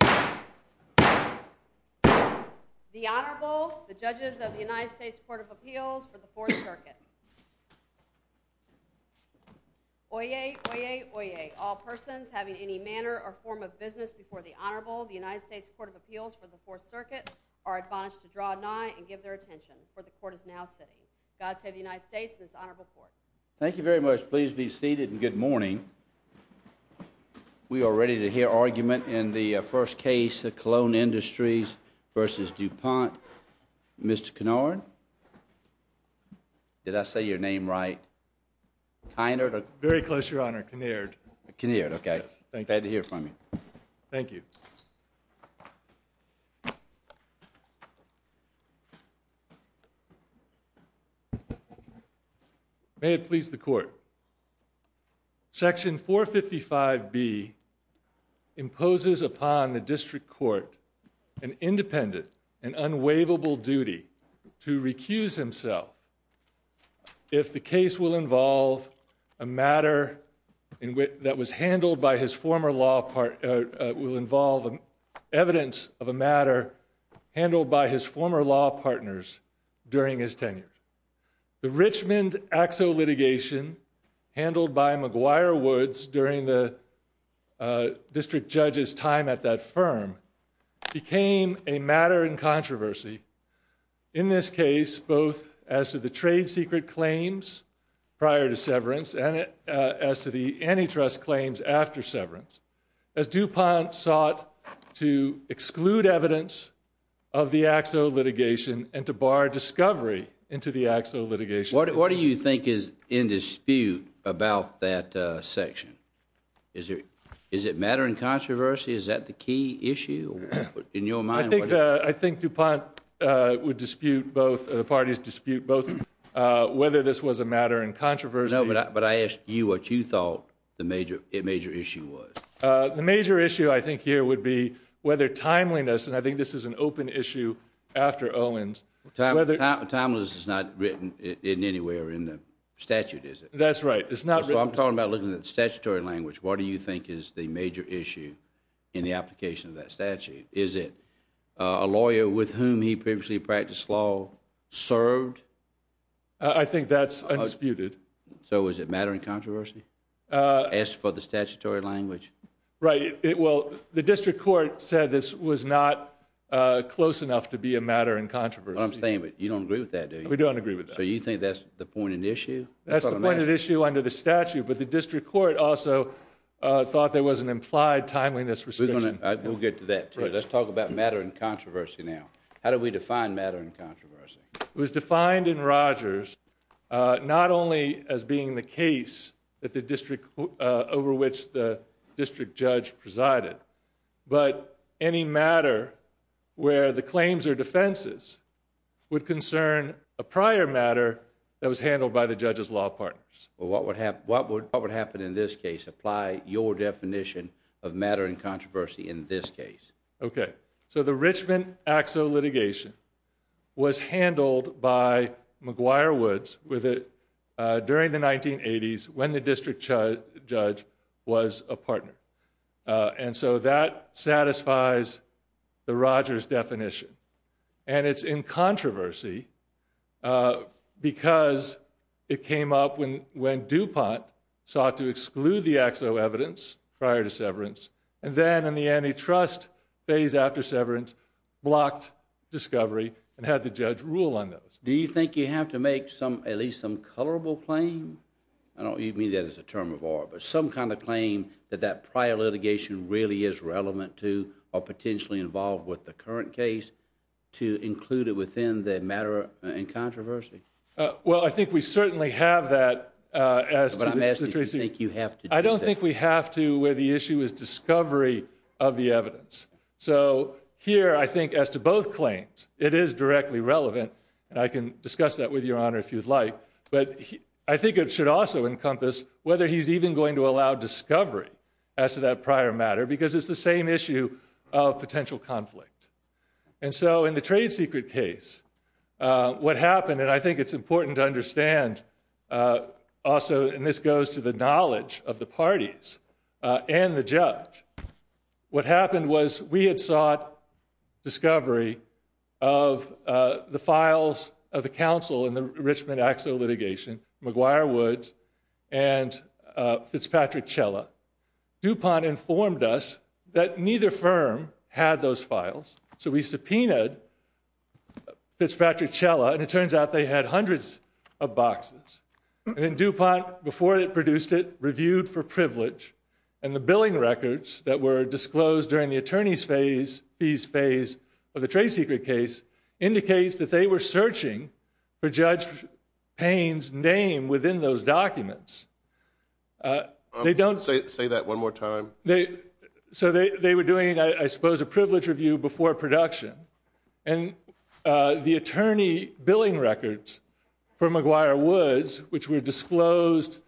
The Honorable, the Judges of the United States Court of Appeals for the Fourth Circuit. Oyez, oyez, oyez, all persons having any manner or form of business before the Honorable of the United States Court of Appeals for the Fourth Circuit are admonished to draw nigh and give their attention, for the Court is now sitting. God save the United States and this Honorable Court. Thank you very much. Please be seated and good morning. We are ready to hear argument in the first case of Cologne Industries v. DuPont. Mr. Kinard? Did I say your name right? Kinard? Very close, Your Honor. Kinard. Kinard, okay. Glad to hear from you. Thank you. May it please the Court. Section 455B imposes upon the District Court an independent and unwaivable duty to recuse himself if the case will involve a matter that was handled by his former law partner, will involve evidence of a matter handled by his former law partners during his tenure. The Richmond AXO litigation handled by McGuire Woods during the District Judge's time at that firm became a matter in controversy in this case both as to the trade secret claims prior to severance and as to the antitrust claims after severance. As DuPont sought to exclude evidence of the AXO litigation and to bar discovery into the AXO litigation. What do you think is in dispute about that section? Is it matter in controversy? Is that the key issue in your mind? I think DuPont would dispute both, the parties dispute both whether this was a matter in controversy. No, but I asked you what you thought the major issue was. The major issue I think here would be whether timeliness, and I think this is an open issue after Owens. Timeliness is not written in anywhere in the statute, is it? That's right. I'm talking about looking at the statutory language. What do you think is the major issue in the application of that statute? Is it a lawyer with whom he previously practiced law served? I think that's undisputed. So is it matter in controversy? As for the statutory language? Right. Well, the District Court said this was not close enough to be a matter in controversy. I'm saying, but you don't agree with that, do you? We don't agree with that. So you think that's the point of the issue? That's the point of the issue under the statute, but the District Court also thought there was an implied timeliness restriction. We'll get to that too. Let's talk about matter in controversy now. How do we define matter in controversy? It was defined in Rogers not only as being the case over which the district judge presided, but any matter where the claims are defenses would concern a prior matter that was handled by the judge's law partners. What would happen in this case? Apply your definition of matter in controversy in this case. So the Richmond AXO litigation was handled by McGuire Woods during the 1980s when the district judge was a partner. And so that satisfies the Rogers definition. And it's in controversy because it came up when DuPont sought to exclude the AXO evidence prior to severance, and then in the antitrust phase after severance blocked discovery and had the judge rule on those. Do you think you have to make at least some colorable claim? I don't mean that as a term of order, but some kind of claim that that prior litigation really is relevant to or potentially involved with the current case to include it within the matter in controversy? Well, I think we certainly have that. But I'm asking, do you think you have to do that? I don't think we have to where the issue is discovery of the evidence. So here, I think as to both claims, it is directly relevant. And I can discuss that with your honor if you'd like. But I think it should also encompass whether he's even going to allow discovery as to that prior matter, because it's the same issue of potential conflict. And so in the trade secret case, what happened? And I think it's important to understand. Also, and this goes to the knowledge of the parties and the judge. What happened was we had sought discovery of the files of the council in the Richmond Axel litigation, McGuire Woods and Fitzpatrick Chella. DuPont informed us that neither firm had those files. So we subpoenaed Fitzpatrick Chella, and it turns out they had hundreds of boxes. And then DuPont, before it produced it, reviewed for privilege. And the billing records that were disclosed during the attorney's fees phase of the trade secret case indicates that they were searching for Judge Payne's name within those documents. Say that one more time. So they were doing, I suppose, a privilege review before production. And the attorney billing records for McGuire Woods, which were disclosed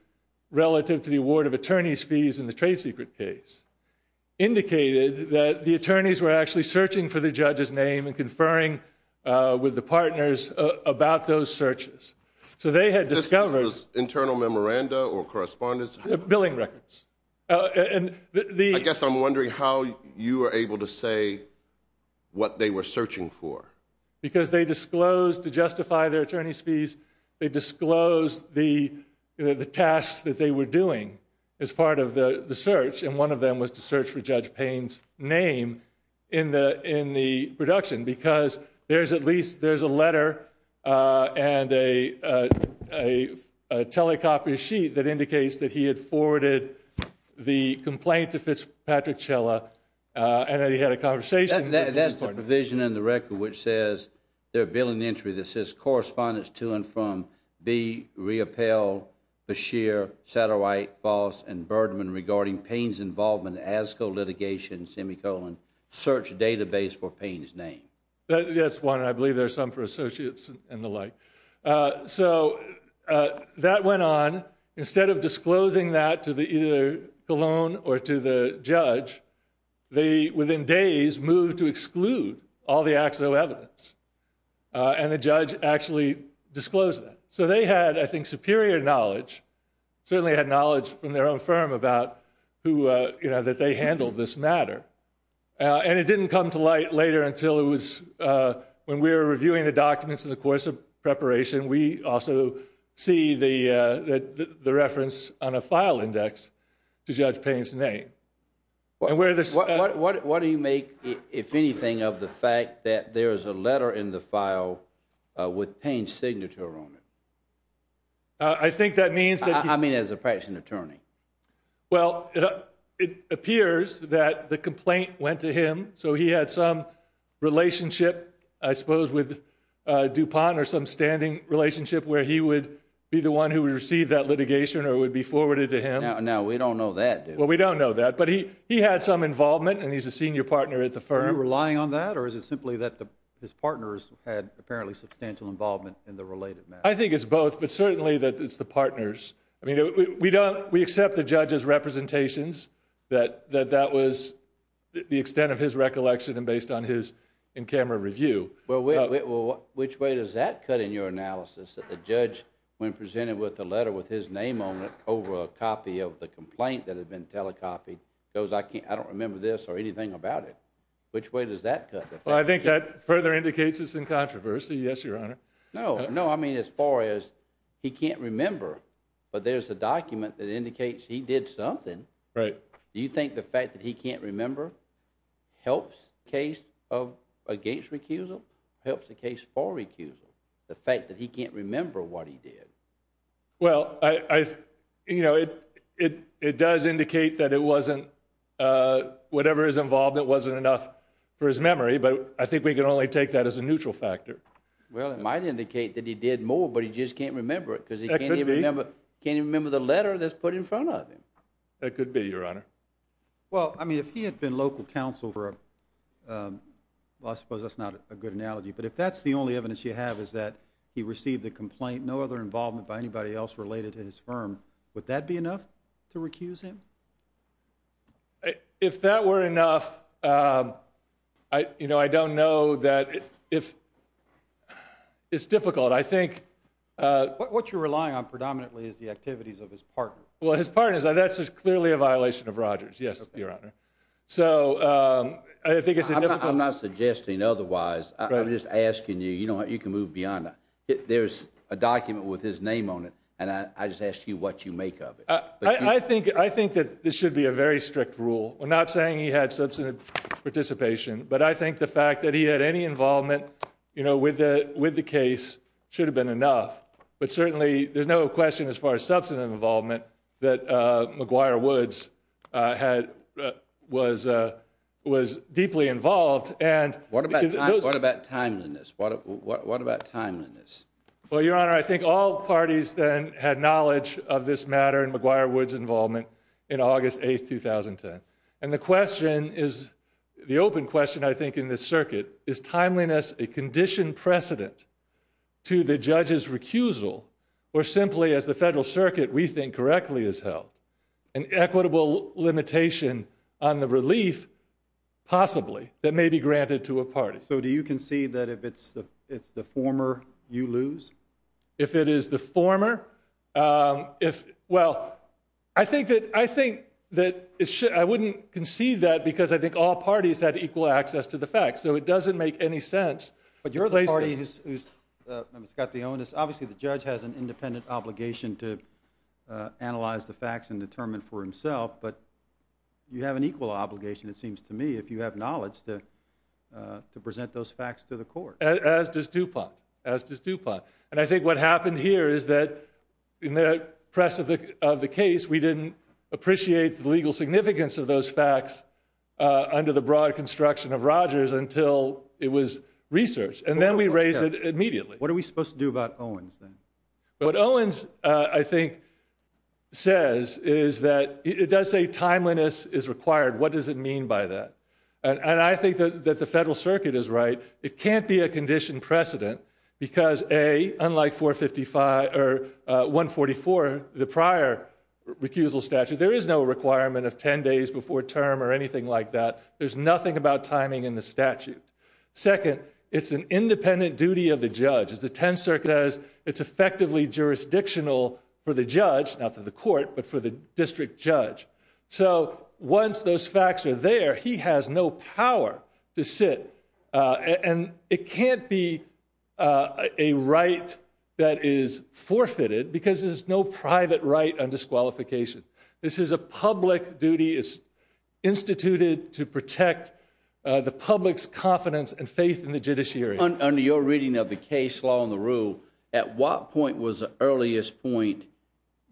relative to the award of attorney's fees in the trade secret case, indicated that the attorneys were actually searching for the judge's name and conferring with the partners about those searches. So they had discovered... This was internal memoranda or correspondence? Billing records. I guess I'm wondering how you were able to say what they were searching for. Because they disclosed, to justify their attorney's fees, they disclosed the tasks that they were doing as part of the search. And one of them was to search for Judge Payne's name in the production. Because there's at least a letter and a telecopier sheet that indicates that he had forwarded the complaint to Fitzpatrick Chella and that he had a conversation with him. Asco litigation, semicolon, search database for Payne's name. That's one. I believe there's some for associates and the like. So that went on. Instead of disclosing that to either Cologne or to the judge, they, within days, moved to exclude all the actual evidence. And the judge actually disclosed that. So they had, I think, superior knowledge, certainly had knowledge from their own firm about that they handled this matter. And it didn't come to light later until it was when we were reviewing the documents in the course of preparation. We also see the reference on a file index to Judge Payne's name. What do you make, if anything, of the fact that there is a letter in the file with Payne's signature on it? I think that means that. I mean, as a practicing attorney. Well, it appears that the complaint went to him. So he had some relationship, I suppose, with DuPont or some standing relationship where he would be the one who would receive that litigation or would be forwarded to him. Now, we don't know that. Well, we don't know that. But he had some involvement, and he's a senior partner at the firm. Are you relying on that, or is it simply that his partners had apparently substantial involvement in the related matter? I think it's both, but certainly that it's the partners. I mean, we accept the judge's representations, that that was the extent of his recollection and based on his in-camera review. Which way does that cut in your analysis? That the judge, when presented with a letter with his name on it over a copy of the complaint that had been telecopied, goes, I don't remember this or anything about it. Which way does that cut? Well, I think that further indicates it's in controversy. Yes, Your Honor. No, no. I mean, as far as he can't remember, but there's a document that indicates he did something. Right. Do you think the fact that he can't remember helps the case against recusal, helps the case for recusal, the fact that he can't remember what he did? Well, you know, it does indicate that it wasn't whatever was involved that wasn't enough for his memory. But I think we can only take that as a neutral factor. Well, it might indicate that he did more, but he just can't remember it because he can't even remember the letter that's put in front of him. That could be, Your Honor. Well, I mean, if he had been local counsel for a, well, I suppose that's not a good analogy, but if that's the only evidence you have is that he received a complaint, no other involvement by anybody else related to his firm, would that be enough to recuse him? If that were enough, you know, I don't know that if, it's difficult. I think. What you're relying on predominantly is the activities of his partner. Well, his partner, that's clearly a violation of Rogers. Yes, Your Honor. So, I think it's a difficult. I'm not suggesting otherwise. I'm just asking you, you know what, you can move beyond that. There's a document with his name on it, and I just ask you what you make of it. I think that this should be a very strict rule. We're not saying he had substantive participation, but I think the fact that he had any involvement, you know, with the case should have been enough. But certainly, there's no question as far as substantive involvement that McGuire Woods was deeply involved. What about timeliness? What about timeliness? Well, Your Honor, I think all parties then had knowledge of this matter and McGuire Woods' involvement in August 8, 2010. And the question is, the open question I think in this circuit, is timeliness a conditioned precedent to the judge's recusal, or simply as the federal circuit we think correctly has held, an equitable limitation on the relief, possibly, that may be granted to a party? So, do you concede that if it's the former, you lose? Well, I think that I wouldn't concede that because I think all parties had equal access to the facts. So, it doesn't make any sense. But you're the party who's got the onus. Obviously, the judge has an independent obligation to analyze the facts and determine for himself. But you have an equal obligation, it seems to me, if you have knowledge to present those facts to the court. As does DuPont. And I think what happened here is that in the press of the case, we didn't appreciate the legal significance of those facts under the broad construction of Rogers until it was researched. And then we raised it immediately. What are we supposed to do about Owens then? What Owens, I think, says is that it does say timeliness is required. What does it mean by that? And I think that the federal circuit is right. It can't be a condition precedent because, A, unlike 144, the prior recusal statute, there is no requirement of 10 days before term or anything like that. There's nothing about timing in the statute. Second, it's an independent duty of the judge. As the 10th Circuit does, it's effectively jurisdictional for the judge, not for the court, but for the district judge. So once those facts are there, he has no power to sit. And it can't be a right that is forfeited because there's no private right on disqualification. This is a public duty. It's instituted to protect the public's confidence and faith in the judiciary. Under your reading of the case law and the rule, at what point was the earliest point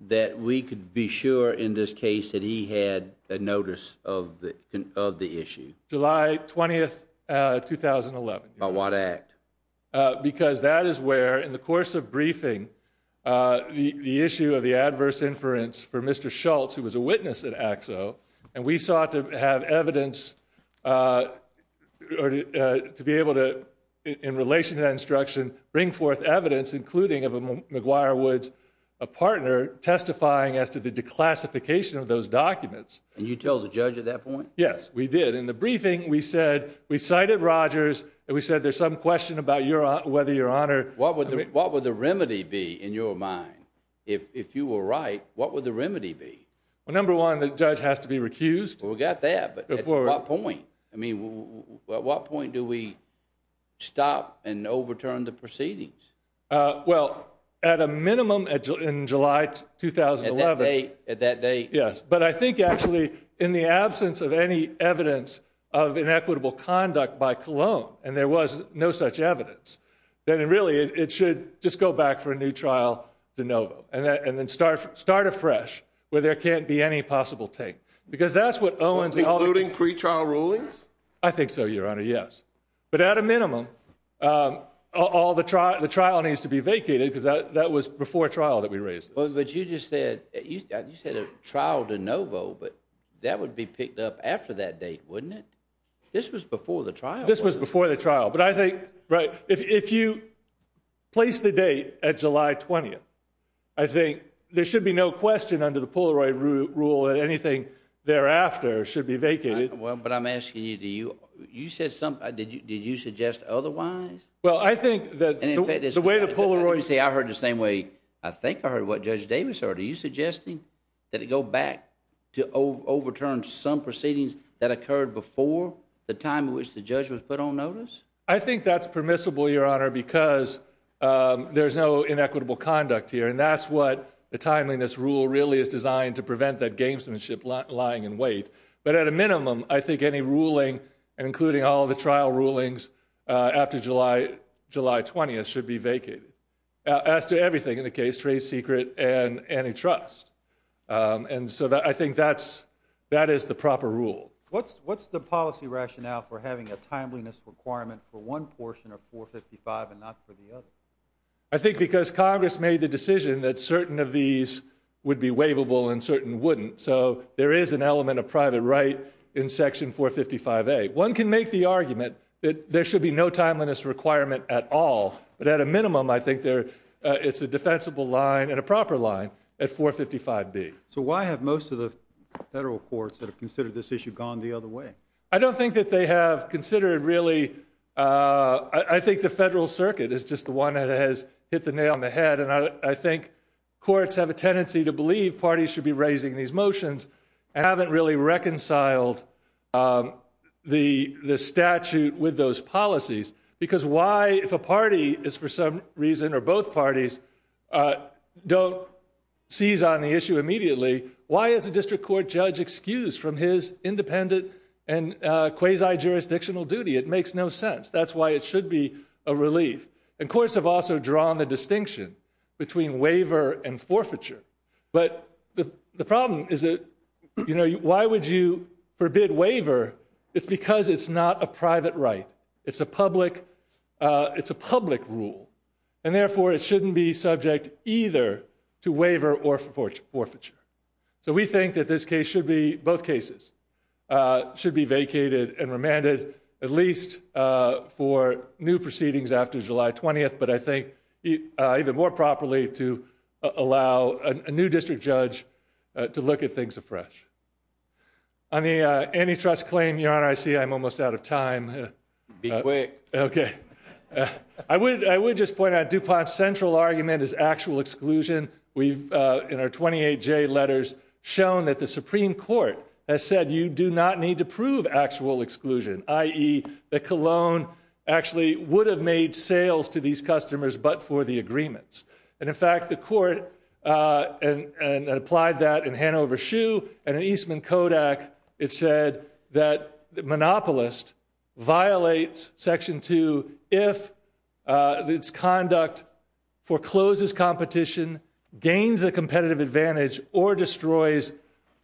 that we could be sure in this case that he had a notice of the issue? July 20th, 2011. By what act? Because that is where, in the course of briefing, the issue of the adverse inference for Mr. Schultz, who was a witness at AXO, and we sought to have evidence to be able to, in relation to that instruction, bring forth evidence, including of McGuire Woods, a partner, testifying as to the declassification of those documents. And you told the judge at that point? Yes, we did. And in the briefing, we cited Rogers, and we said there's some question about whether your honor- What would the remedy be, in your mind? If you were right, what would the remedy be? Well, number one, the judge has to be recused. We got that, but at what point? I mean, at what point do we stop and overturn the proceedings? Well, at a minimum, in July 2011- At that date? Yes. But I think, actually, in the absence of any evidence of inequitable conduct by Cologne, and there was no such evidence, then really it should just go back for a new trial de novo, and then start afresh, where there can't be any possible take. Because that's what Owens- Including pretrial rulings? I think so, your honor, yes. But at a minimum, the trial needs to be vacated, because that was before trial that we raised this. But you just said, you said a trial de novo, but that would be picked up after that date, wouldn't it? This was before the trial. This was before the trial, but I think, right, if you place the date at July 20th, I think there should be no question under the Polaroid rule that anything thereafter should be vacated. Well, but I'm asking you, did you suggest otherwise? Well, I think that the way the Polaroid- The Polaroid, you see, I heard the same way I think I heard what Judge Davis heard. Are you suggesting that it go back to overturn some proceedings that occurred before the time in which the judge was put on notice? I think that's permissible, your honor, because there's no inequitable conduct here, and that's what the timeliness rule really is designed to prevent that gamesmanship lying in wait. But at a minimum, I think any ruling, including all the trial rulings after July 20th, should be vacated. As to everything in the case, trade secret and antitrust. And so I think that is the proper rule. What's the policy rationale for having a timeliness requirement for one portion of 455 and not for the other? I think because Congress made the decision that certain of these would be waivable and certain wouldn't. So there is an element of private right in Section 455A. One can make the argument that there should be no timeliness requirement at all. But at a minimum, I think there is a defensible line and a proper line at 455B. So why have most of the federal courts that have considered this issue gone the other way? I don't think that they have considered it really. I think the federal circuit is just the one that has hit the nail on the head. And I think courts have a tendency to believe parties should be raising these motions and haven't really reconciled the statute with those policies. Because why, if a party is for some reason, or both parties, don't seize on the issue immediately, why is a district court judge excused from his independent and quasi-jurisdictional duty? It makes no sense. That's why it should be a relief. And courts have also drawn the distinction between waiver and forfeiture. But the problem is that, you know, why would you forbid waiver? It's because it's not a private right. It's a public rule. And therefore it shouldn't be subject either to waiver or forfeiture. So we think that this case should be, both cases, should be vacated and remanded, at least for new proceedings after July 20th, but I think even more properly to allow a new district judge to look at things afresh. On the antitrust claim, Your Honor, I see I'm almost out of time. Be quick. Okay. I would just point out DuPont's central argument is actual exclusion. We've, in our 28J letters, shown that the Supreme Court has said you do not need to prove actual exclusion, i.e. that Cologne actually would have made sales to these customers but for the agreements. And, in fact, the court applied that in Hanover Shoe and in Eastman Kodak, it said that monopolist violates Section 2 if its conduct forecloses competition, gains a competitive advantage, or destroys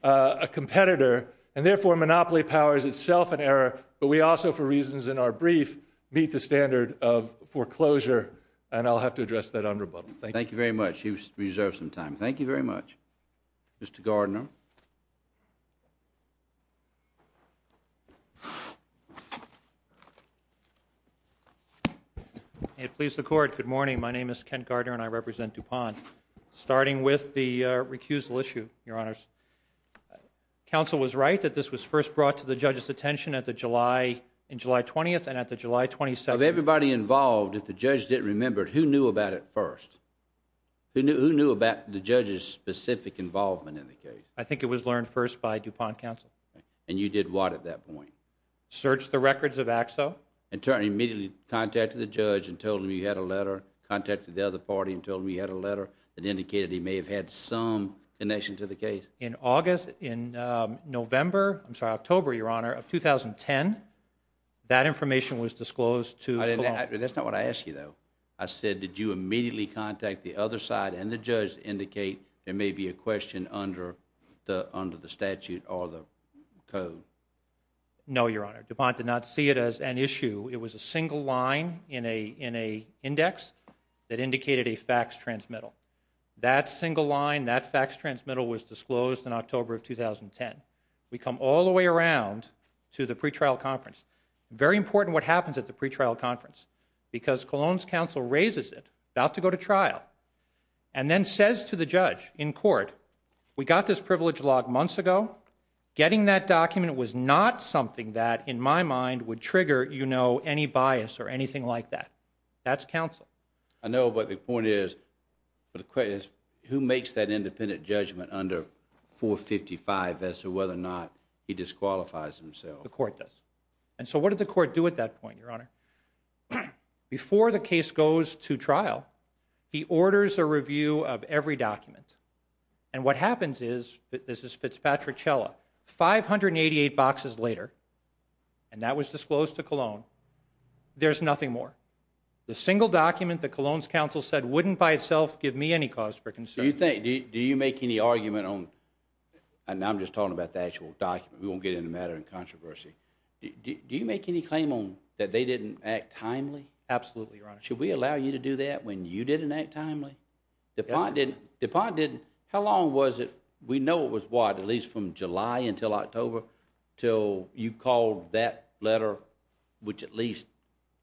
a competitor, and therefore monopoly powers itself an error, but we also, for reasons in our brief, meet the standard of foreclosure. And I'll have to address that on rebuttal. Thank you. Thank you very much. You've reserved some time. Thank you very much. Mr. Gardner. May it please the Court, good morning. My name is Kent Gardner and I represent DuPont. Starting with the recusal issue, Your Honors. Counsel was right that this was first brought to the judge's attention in July 20th and at the July 27th. Of everybody involved, if the judge didn't remember, who knew about it first? Who knew about the judge's specific involvement in the case? I think it was learned first by DuPont counsel. And you did what at that point? Searched the records of Axo. And immediately contacted the judge and told him you had a letter, contacted the other party and told them you had a letter that indicated he may have had some connection to the case? In August, in November, I'm sorry, October, Your Honor, of 2010, that information was disclosed to Cologne. That's not what I asked you though. I said did you immediately contact the other side and the judge to indicate there may be a question under the statute or the code? No, Your Honor. DuPont did not see it as an issue. It was a single line in an index that indicated a fax transmittal. That single line, that fax transmittal was disclosed in October of 2010. We come all the way around to the pretrial conference. Very important what happens at the pretrial conference because Cologne's counsel raises it, about to go to trial, and then says to the judge in court, we got this privilege log months ago. Getting that document was not something that in my mind would trigger, you know, any bias or anything like that. That's counsel. I know, but the point is, who makes that independent judgment under 455 as to whether or not he disqualifies himself? That's what the court does. And so what did the court do at that point, Your Honor? Before the case goes to trial, he orders a review of every document. And what happens is, this is Fitzpatrick-Chella, 588 boxes later, and that was disclosed to Cologne, there's nothing more. The single document that Cologne's counsel said wouldn't by itself give me any cause for concern. Do you think, do you make any argument on, and I'm just talking about the actual document. We won't get into a matter of controversy. Do you make any claim on that they didn't act timely? Absolutely, Your Honor. Should we allow you to do that when you didn't act timely? Yes, Your Honor. How long was it, we know it was what, at least from July until October, till you called that letter, which at least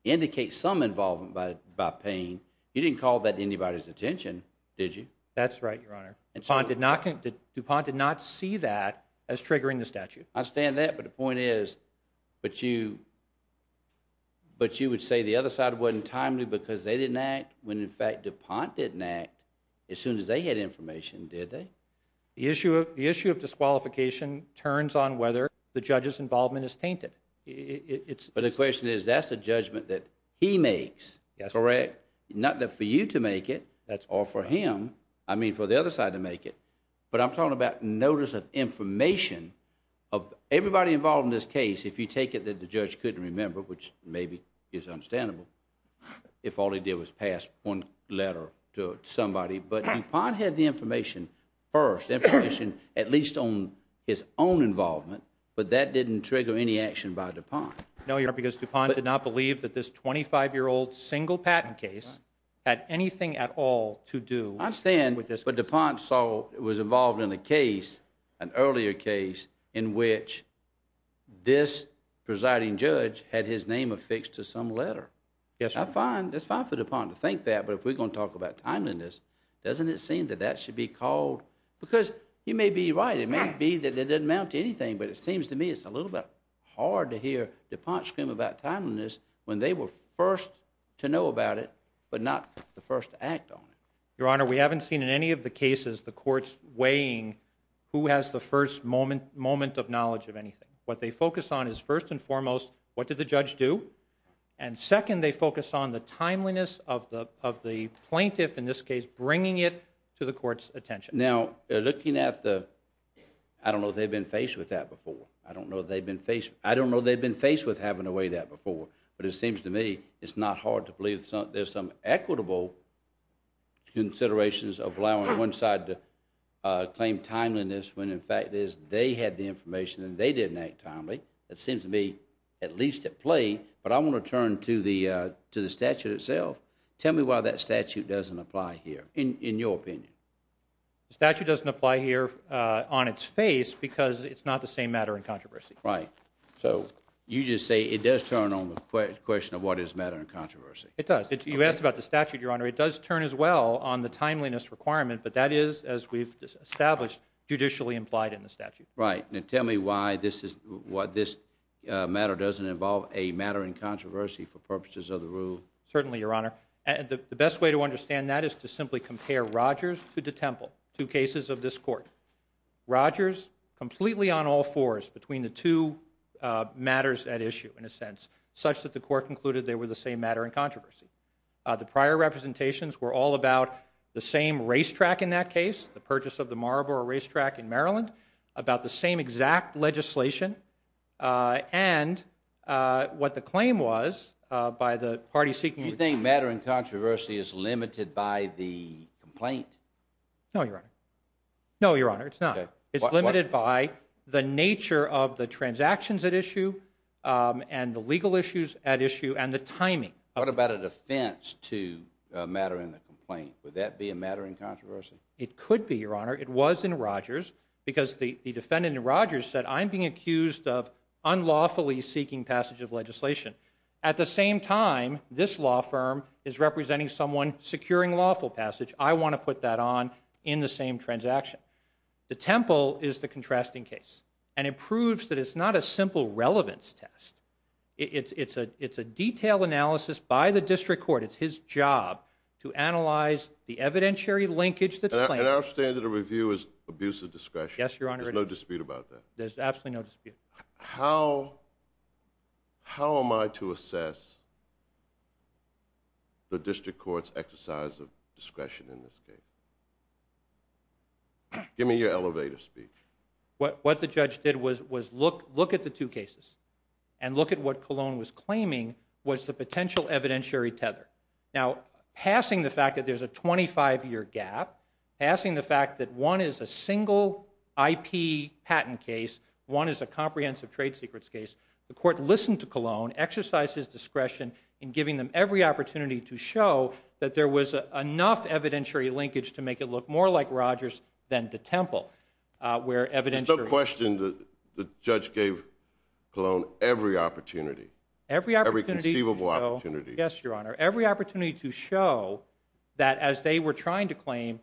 indicates some involvement by Payne. You didn't call that to anybody's attention, did you? That's right, Your Honor. DuPont did not see that as triggering the statute. I stand that, but the point is, but you would say the other side wasn't timely because they didn't act, when in fact DuPont didn't act as soon as they had information, did they? The issue of disqualification turns on whether the judge's involvement is tainted. But the question is, that's a judgment that he makes, correct? Not that for you to make it, or for him, I mean for the other side to make it. But I'm talking about notice of information of everybody involved in this case, if you take it that the judge couldn't remember, which maybe is understandable, if all he did was pass one letter to somebody. But DuPont had the information first, information at least on his own involvement, but that didn't trigger any action by DuPont. No, Your Honor, because DuPont did not believe that this 25-year-old single patent case had anything at all to do... I'm saying, but DuPont was involved in a case, an earlier case, in which this presiding judge had his name affixed to some letter. Yes, Your Honor. It's fine for DuPont to think that, but if we're going to talk about timeliness, doesn't it seem that that should be called... because you may be right, it may be that it didn't amount to anything, but it seems to me it's a little bit hard to hear DuPont scream about timeliness when they were first to know about it, but not the first to act on it. Your Honor, we haven't seen in any of the cases the courts weighing who has the first moment of knowledge of anything. What they focus on is, first and foremost, what did the judge do? And second, they focus on the timeliness of the plaintiff, in this case, bringing it to the court's attention. Now, looking at the... I don't know if they've been faced with that before. I don't know if they've been faced with having to weigh that before, but it seems to me it's not hard to believe there's some equitable considerations of allowing one side to claim timeliness when, in fact, they had the information and they didn't act timely. It seems to me at least at play, but I want to turn to the statute itself. Tell me why that statute doesn't apply here, in your opinion. The statute doesn't apply here on its face because it's not the same matter in controversy. Right. So you just say it does turn on the question of what is matter in controversy. It does. You asked about the statute, Your Honor. It does turn as well on the timeliness requirement, but that is, as we've established, judicially implied in the statute. Right. Now tell me why this matter doesn't involve a matter in controversy for purposes of the rule. Certainly, Your Honor. The best way to understand that is to simply compare Rogers to DeTemple, two cases of this court. Rogers completely on all fours between the two matters at issue, in a sense, such that the court concluded they were the same matter in controversy. The prior representations were all about the same racetrack in that case, the purchase of the Marlboro racetrack in Maryland, about the same exact legislation and what the claim was by the party seeking Do you think matter in controversy is limited by the complaint? No, Your Honor. No, Your Honor, it's not. It's limited by the nature of the transactions at issue and the legal issues at issue and the timing. What about a defense to a matter in the complaint? Would that be a matter in controversy? It could be, Your Honor. It was in Rogers because the defendant in Rogers said, I'm being accused of unlawfully seeking passage of legislation. At the same time, this law firm is representing someone securing lawful passage. I want to put that on in the same transaction. DeTemple is the contrasting case, and it proves that it's not a simple relevance test. It's a detailed analysis by the district court. It's his job to analyze the evidentiary linkage that's playing out. And our standard of review is abuse of discretion. Yes, Your Honor. There's no dispute about that. There's absolutely no dispute. How am I to assess the district court's exercise of discretion in this case? Give me your elevator speech. What the judge did was look at the two cases and look at what Colon was claiming was the potential evidentiary tether. Now, passing the fact that there's a 25-year gap, passing the fact that one is a single IP patent case, one is a comprehensive trade secrets case, the court listened to Colon, exercised his discretion in giving them every opportunity to show that there was enough evidentiary linkage to make it look more like Rogers than DeTemple. There's no question the judge gave Colon every opportunity. Every opportunity to show. Every conceivable opportunity. Yes, Your Honor. Every opportunity to show that as they were trying to claim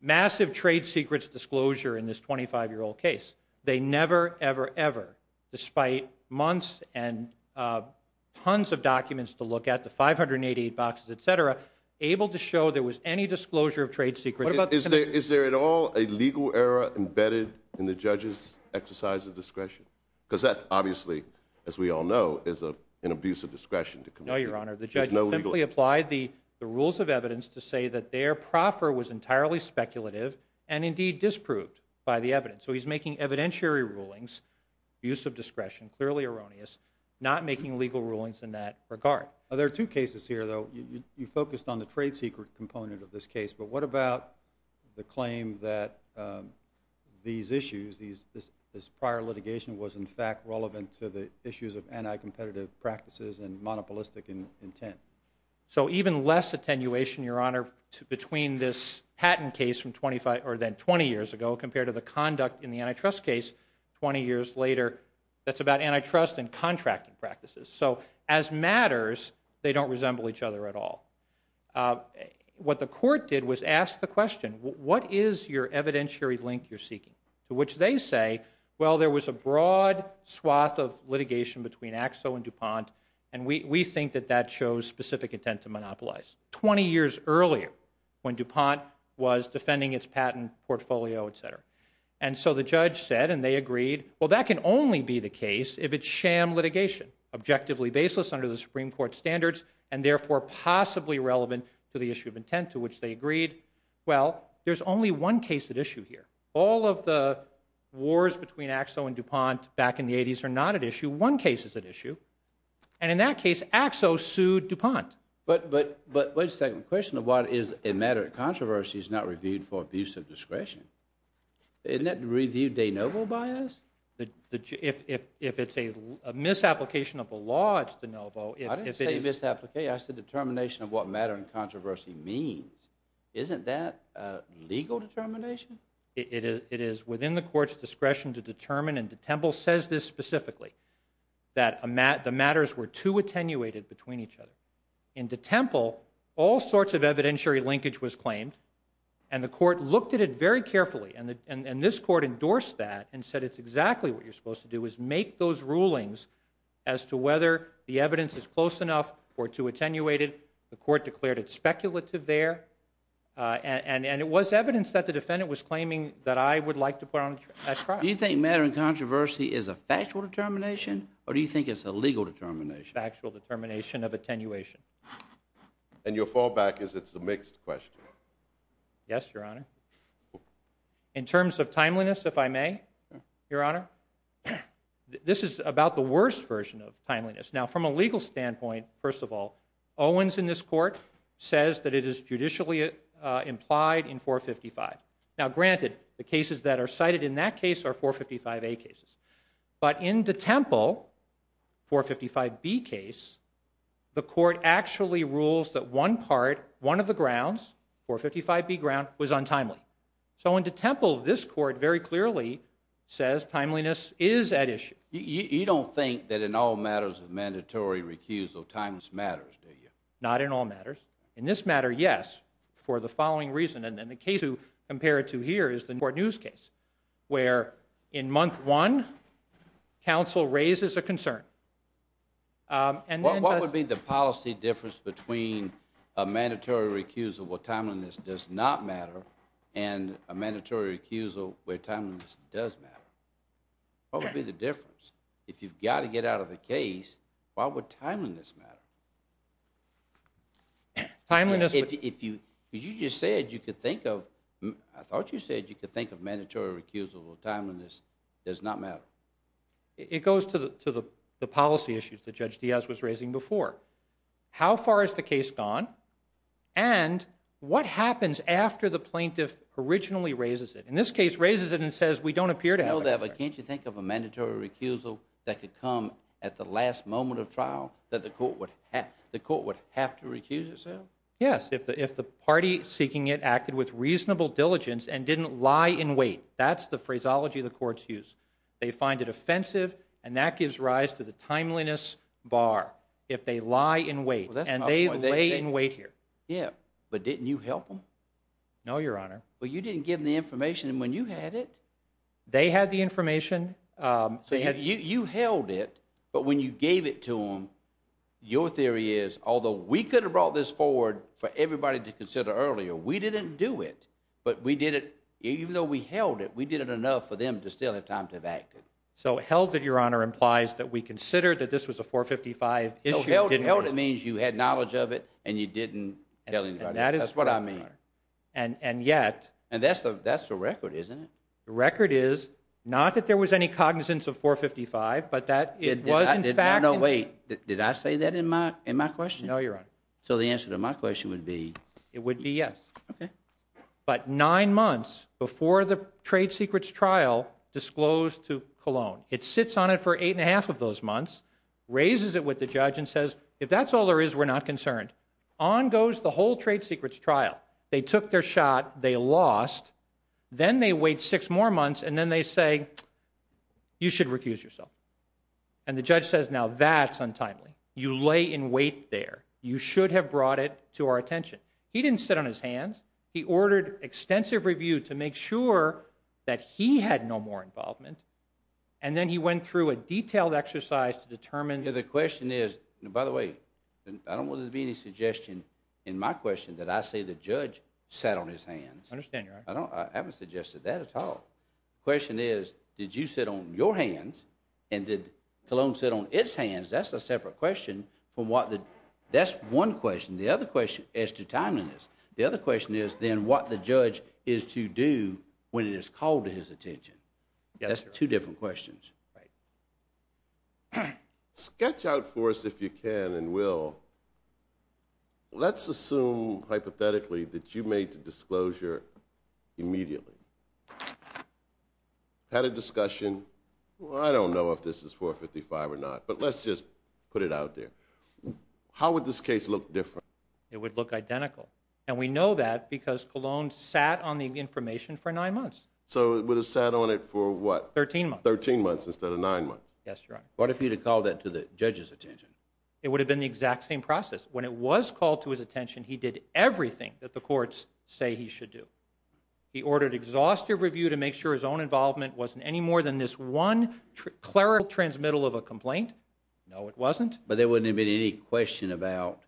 massive trade secrets disclosure in this 25-year-old case, they never, ever, ever, despite months and tons of documents to look at, the 588 boxes, et cetera, able to show there was any disclosure of trade secrets. Is there at all a legal error embedded in the judge's exercise of discretion? Because that, obviously, as we all know, is an abuse of discretion. No, Your Honor. The judge simply applied the rules of evidence to say that their proffer was entirely speculative and indeed disproved by the evidence. So he's making evidentiary rulings, abuse of discretion, clearly erroneous, not making legal rulings in that regard. There are two cases here, though. You focused on the trade secret component of this case, but what about the claim that these issues, this prior litigation, was in fact relevant to the issues of anti-competitive practices and monopolistic intent? So even less attenuation, Your Honor, between this patent case from 25 or then 20 years ago compared to the conduct in the antitrust case 20 years later that's about antitrust and contracting practices. So as matters, they don't resemble each other at all. What the court did was ask the question, what is your evidentiary link you're seeking? To which they say, well, there was a broad swath of litigation between Axel and DuPont, and we think that that shows specific intent to monopolize. earlier when DuPont was defending its patent portfolio, et cetera. And so the judge said, and they agreed, well, that can only be the case if it's sham litigation, objectively baseless under the Supreme Court standards, and therefore possibly relevant to the issue of intent, to which they agreed. Well, there's only one case at issue here. All of the wars between Axel and DuPont back in the 80s are not at issue. One case is at issue. And in that case, Axel sued DuPont. But wait a second. The question of what is a matter of controversy is not reviewed for abuse of discretion. Isn't that review de novo bias? If it's a misapplication of the law, it's de novo. I didn't say misapplication. I said determination of what matter and controversy means. Isn't that legal determination? It is within the court's discretion to determine, and DeTemple says this specifically, that the matters were too attenuated between each other. In DeTemple, all sorts of evidentiary linkage was claimed, and the court looked at it very carefully. And this court endorsed that and said, it's exactly what you're supposed to do, is make those rulings as to whether the evidence is close enough or too attenuated. The court declared it speculative there. And it was evidence that the defendant was claiming that I would like to put on trial. Do you think matter and controversy is a factual determination, or do you think it's a legal determination? Factual determination of attenuation. And your fallback is it's a mixed question. Yes, Your Honor. In terms of timeliness, if I may, Your Honor, this is about the worst version of timeliness. Now, from a legal standpoint, first of all, Owens in this court says that it is judicially implied in 455. Now, granted, the cases that are cited in that case are 455A cases. But in DeTemple, 455B case, the court actually rules that one part, one of the grounds, 455B ground, was untimely. So in DeTemple, this court very clearly says timeliness is at issue. You don't think that in all matters of mandatory recusal, timeliness matters, do you? Not in all matters. In this matter, yes, for the following reason. And the case you compare it to here is the court news case, where in month one, counsel raises a concern. What would be the policy difference between a mandatory recusal where timeliness does not matter and a mandatory recusal where timeliness does matter? What would be the difference? If you've got to get out of the case, why would timeliness matter? Timeliness... You just said you could think of... I thought you said you could think of mandatory recusal where timeliness does not matter. It goes to the policy issues that Judge Diaz was raising before. How far has the case gone? And what happens after the plaintiff originally raises it? In this case, raises it and says, we don't appear to have a concern. Can't you think of a mandatory recusal that could come at the last moment of trial that the court would have to recuse itself? Yes, if the party seeking it acted with reasonable diligence and didn't lie in wait. That's the phraseology the courts use. They find it offensive, and that gives rise to the timeliness bar, if they lie in wait, and they lay in wait here. Yeah, but didn't you help them? No, Your Honor. and when you had it... They had the information. So you held it, but when you gave it to them, your theory is, although we could have brought this forward for everybody to consider earlier, we didn't do it, but we did it... Even though we held it, we did it enough for them to still have time to have acted. So held it, Your Honor, implies that we considered that this was a 455 issue. Held it means you had knowledge of it and you didn't tell anybody. That's what I mean. And yet... And that's the record, isn't it? The record is, not that there was any cognizance of 455, but that it was in fact... No, wait. Did I say that in my question? No, Your Honor. So the answer to my question would be... It would be yes. Okay. But nine months before the trade secrets trial disclosed to Cologne, it sits on it for eight and a half of those months, raises it with the judge and says, if that's all there is, we're not concerned. On goes the whole trade secrets trial. They took their shot, they lost. Then they wait six more months, and then they say, you should recuse yourself. And the judge says, now that's untimely. You lay in wait there. You should have brought it to our attention. He didn't sit on his hands. He ordered extensive review to make sure that he had no more involvement. And then he went through a detailed exercise to determine... The question is, and by the way, I don't want there to be any suggestion in my question that I say the judge sat on his hands. I understand, Your Honor. I haven't suggested that at all. The question is, did you sit on your hands, and did Cologne sit on its hands? That's a separate question from what the... That's one question. The other question, as to timeliness, the other question is, then what the judge is to do when it is called to his attention. That's two different questions. Right. Sketch out for us, if you can, and we'll... Let's assume, hypothetically, that you made the disclosure immediately. Had a discussion. Well, I don't know if this is 455 or not, but let's just put it out there. How would this case look different? It would look identical. And we know that because Cologne sat on the information for nine months. So it would have sat on it for what? 13 months. 13 months instead of nine months. Yes, Your Honor. What if he had called that to the judge's attention? It would have been the exact same process. When it was called to his attention, he did everything that the courts say he should do. He ordered exhaustive review to make sure his own involvement wasn't any more than this one clerical transmittal of a complaint. No, it wasn't. But there wouldn't have been any question about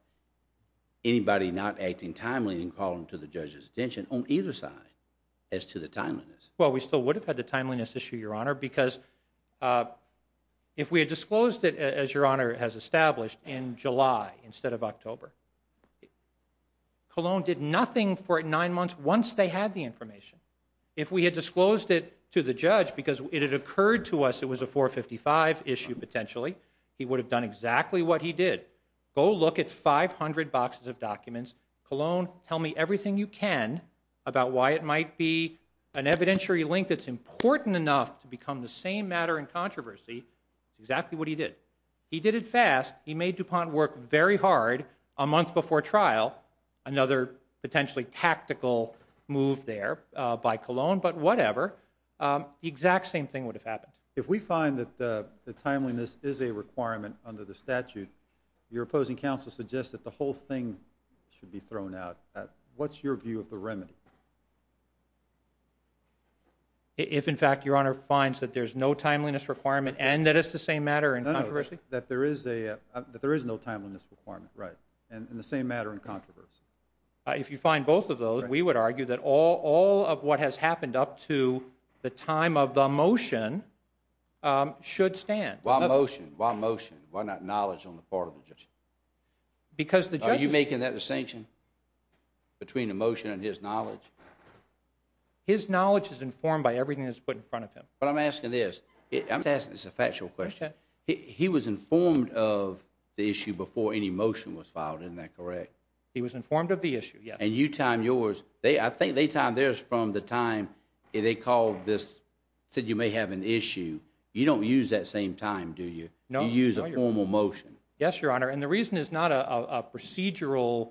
anybody not acting timely in calling to the judge's attention on either side as to the timeliness. Well, we still would have had the timeliness issue, Your Honor, because if we had disclosed it, as Your Honor has established, in July instead of October, Cologne did nothing for nine months once they had the information. If we had disclosed it to the judge because it had occurred to us it was a 455 issue potentially, he would have done exactly what he did. Go look at 500 boxes of documents. Cologne, tell me everything you can about why it might be an evidentiary link that's important enough to become the same matter in controversy. It's exactly what he did. He did it fast. He made DuPont work very hard a month before trial, another potentially tactical move there by Cologne, but whatever, the exact same thing would have happened. If we find that the timeliness is a requirement under the statute, your opposing counsel suggests that the whole thing should be thrown out. What's your view of the remedy? If, in fact, Your Honor finds that there's no timeliness requirement and that it's the same matter in controversy? That there is no timeliness requirement, right, and the same matter in controversy. If you find both of those, we would argue that all of what has happened up to the time of the motion should stand. Why motion? Why motion? Why not knowledge on the part of the judge? Because the judge... Are you making that distinction between the motion and his knowledge? His knowledge is informed by everything that's put in front of him. But I'm asking this. I'm asking this a factual question. He was informed of the issue before any motion was filed, isn't that correct? He was informed of the issue, yes. And you time yours. I think they timed theirs from the time they called this, said you may have an issue. You don't use that same time, do you? No, Your Honor. You use a formal motion. Yes, Your Honor, and the reason is not a procedural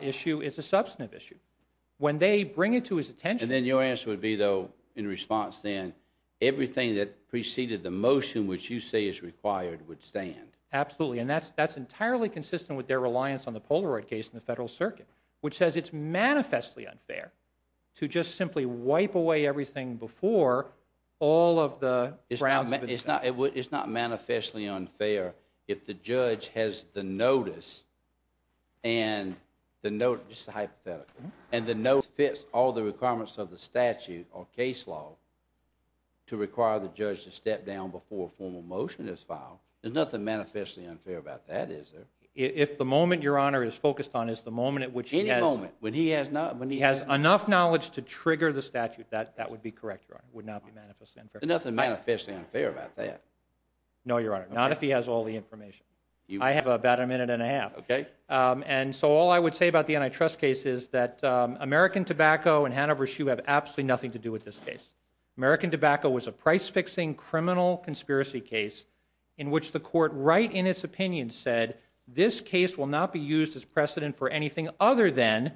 issue. It's a substantive issue. When they bring it to his attention... And then your answer would be, though, in response then, everything that preceded the motion which you say is required would stand. Absolutely, and that's entirely consistent with their reliance on the Polaroid case in the Federal Circuit, which says it's manifestly unfair to just simply wipe away everything before all of the grounds... It's not manifestly unfair if the judge has the notice and the notice is hypothetical and the notice fits all the requirements of the statute or case law to require the judge to step down before a formal motion is filed. There's nothing manifestly unfair about that, is there? If the moment Your Honor is focused on is the moment at which he has... Any moment. When he has enough knowledge to trigger the statute, that would be correct, Your Honor. It would not be manifestly unfair. There's nothing manifestly unfair about that. No, Your Honor. Not if he has all the information. I have about a minute and a half. Okay. And so all I would say about the antitrust case is that American Tobacco and Hanover Shoe have absolutely nothing to do with this case. American Tobacco was a price-fixing criminal conspiracy case in which the court, right in its opinion, said this case will not be used as precedent for anything other than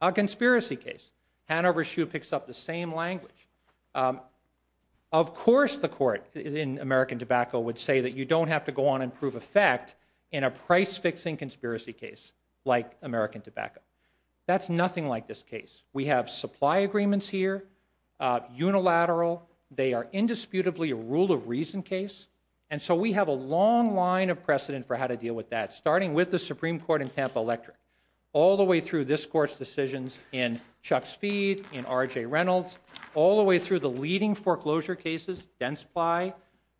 a conspiracy case. Hanover Shoe picks up the same language. Of course the court in American Tobacco would say that you don't have to go on and prove a fact in a price-fixing conspiracy case like American Tobacco. That's nothing like this case. We have supply agreements here, unilateral. They are indisputably a rule-of-reason case. And so we have a long line of precedent for how to deal with that, starting with the Supreme Court in Tampa Electric, all the way through this court's decisions in Chuck Speed, in R.J. Reynolds, all the way through the leading foreclosure cases, Densply,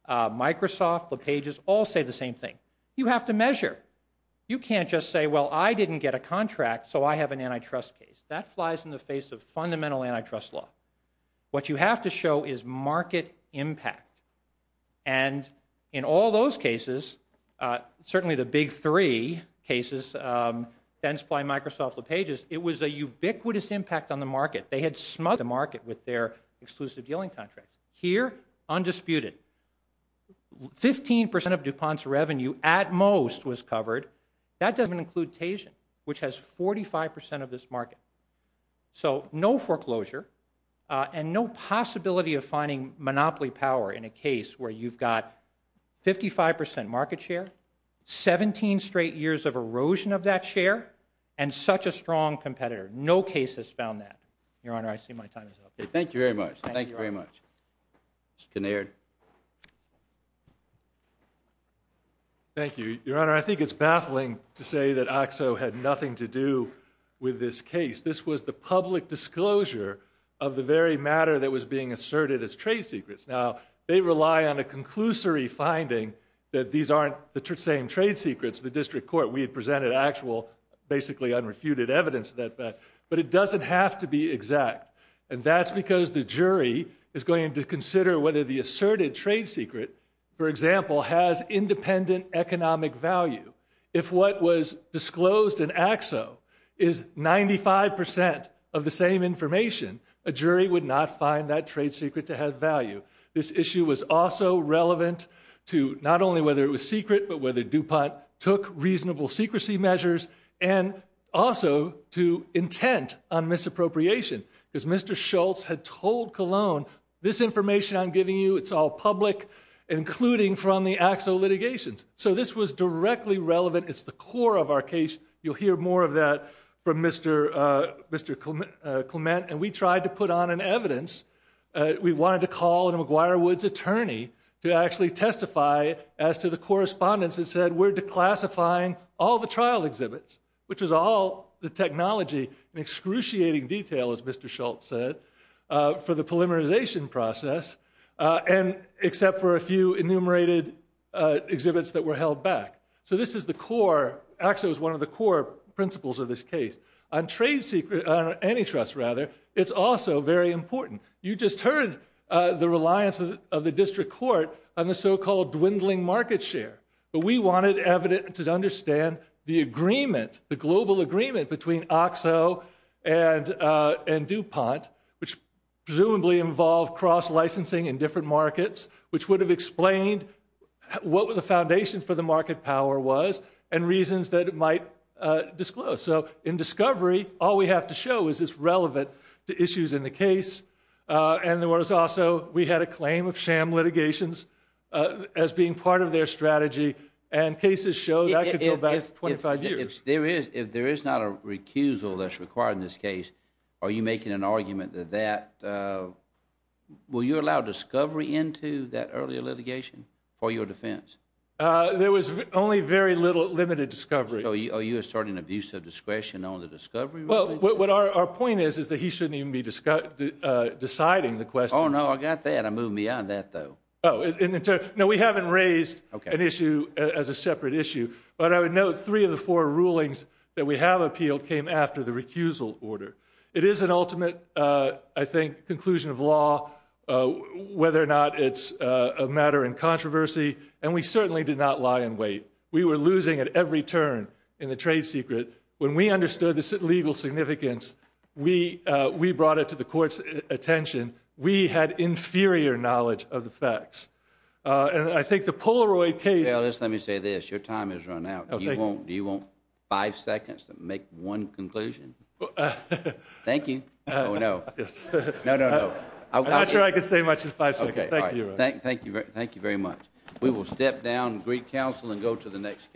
Microsoft, LePage's, all say the same thing. You have to measure. You can't just say, well, I didn't get a contract, so I have an antitrust case. That flies in the face of fundamental antitrust law. What you have to show is market impact. And in all those cases, certainly the big three cases, Densply, Microsoft, LePage's, it was a ubiquitous impact on the market. They had smothered the market with their exclusive dealing contracts. Here, undisputed. Fifteen percent of DuPont's revenue, at most, was covered. That doesn't even include Tayshin, which has 45% of this market. So no foreclosure, and no possibility of finding monopoly power in a case where you've got 55% market share, 17 straight years of erosion of that share, and such a strong competitor. No case has found that. Your Honor, I see my time is up. Thank you very much. Thank you very much. Mr. Kinnaird. Thank you. Your Honor, I think it's baffling to say that OXO had nothing to do with this case. This was the public disclosure of the very matter that was being asserted as trade secrets. Now, they rely on a conclusory finding that these aren't the same trade secrets. The district court, we had presented actual, basically unrefuted evidence of that fact. But it doesn't have to be exact. And that's because the jury is going to consider whether the asserted trade secret, for example, has independent economic value. If what was disclosed in OXO is 95% of the same information, a jury would not find that trade secret to have value. This issue was also relevant to not only whether it was secret, but whether DuPont took reasonable secrecy measures, and also to intent on misappropriation, because Mr. Schultz had told Cologne, this information I'm giving you, it's all public, including from the OXO litigations. So this was directly relevant. It's the core of our case. You'll hear more of that from Mr. Clement. And we tried to put on an evidence. We wanted to call a McGuire Woods attorney to actually testify as to the correspondence that said we're declassifying all the trial exhibits, which was all the technology, an excruciating detail, as Mr. Schultz said, for the polymerization process. And except for a few enumerated exhibits that were held back. So this is the core, OXO is one of the core principles of this case. On trade secret, antitrust rather, it's also very important. You just heard the reliance of the district court on the so-called dwindling market share. But we wanted evidence to understand the agreement, the global agreement between OXO and DuPont, which presumably involved cross-licensing in different markets, which would have explained what the foundation for the market power was and reasons that it might disclose. So in discovery, all we have to show is it's relevant to issues in the case. And there was also, we had a claim of sham litigations as being part of their strategy. And cases show that could go back 25 years. If there is not a recusal that's required in this case, are you making an argument that that, will you allow discovery into that earlier litigation for your defense? There was only very little limited discovery. So are you asserting abuse of discretion on the discovery? Well, what our point is, is that he shouldn't even be deciding the questions. Oh, no, I got that. I'm moving beyond that though. No, we haven't raised an issue as a separate issue, but I would note three of the four rulings that we have appealed came after the recusal order. It is an ultimate, I think, conclusion of law, whether or not it's a matter in controversy. And we certainly did not lie in wait. We were losing at every turn in the trade secret. When we understood the legal significance, we brought it to the court's attention. We had inferior knowledge of the facts. And I think the Polaroid case. Let me say this, your time has run out. Do you want five seconds to make one conclusion? Thank you. Oh, no. No, no, no. I'm not sure I can say much in five seconds. Thank you. Thank you very much. We will step down and greet counsel and go to the next case.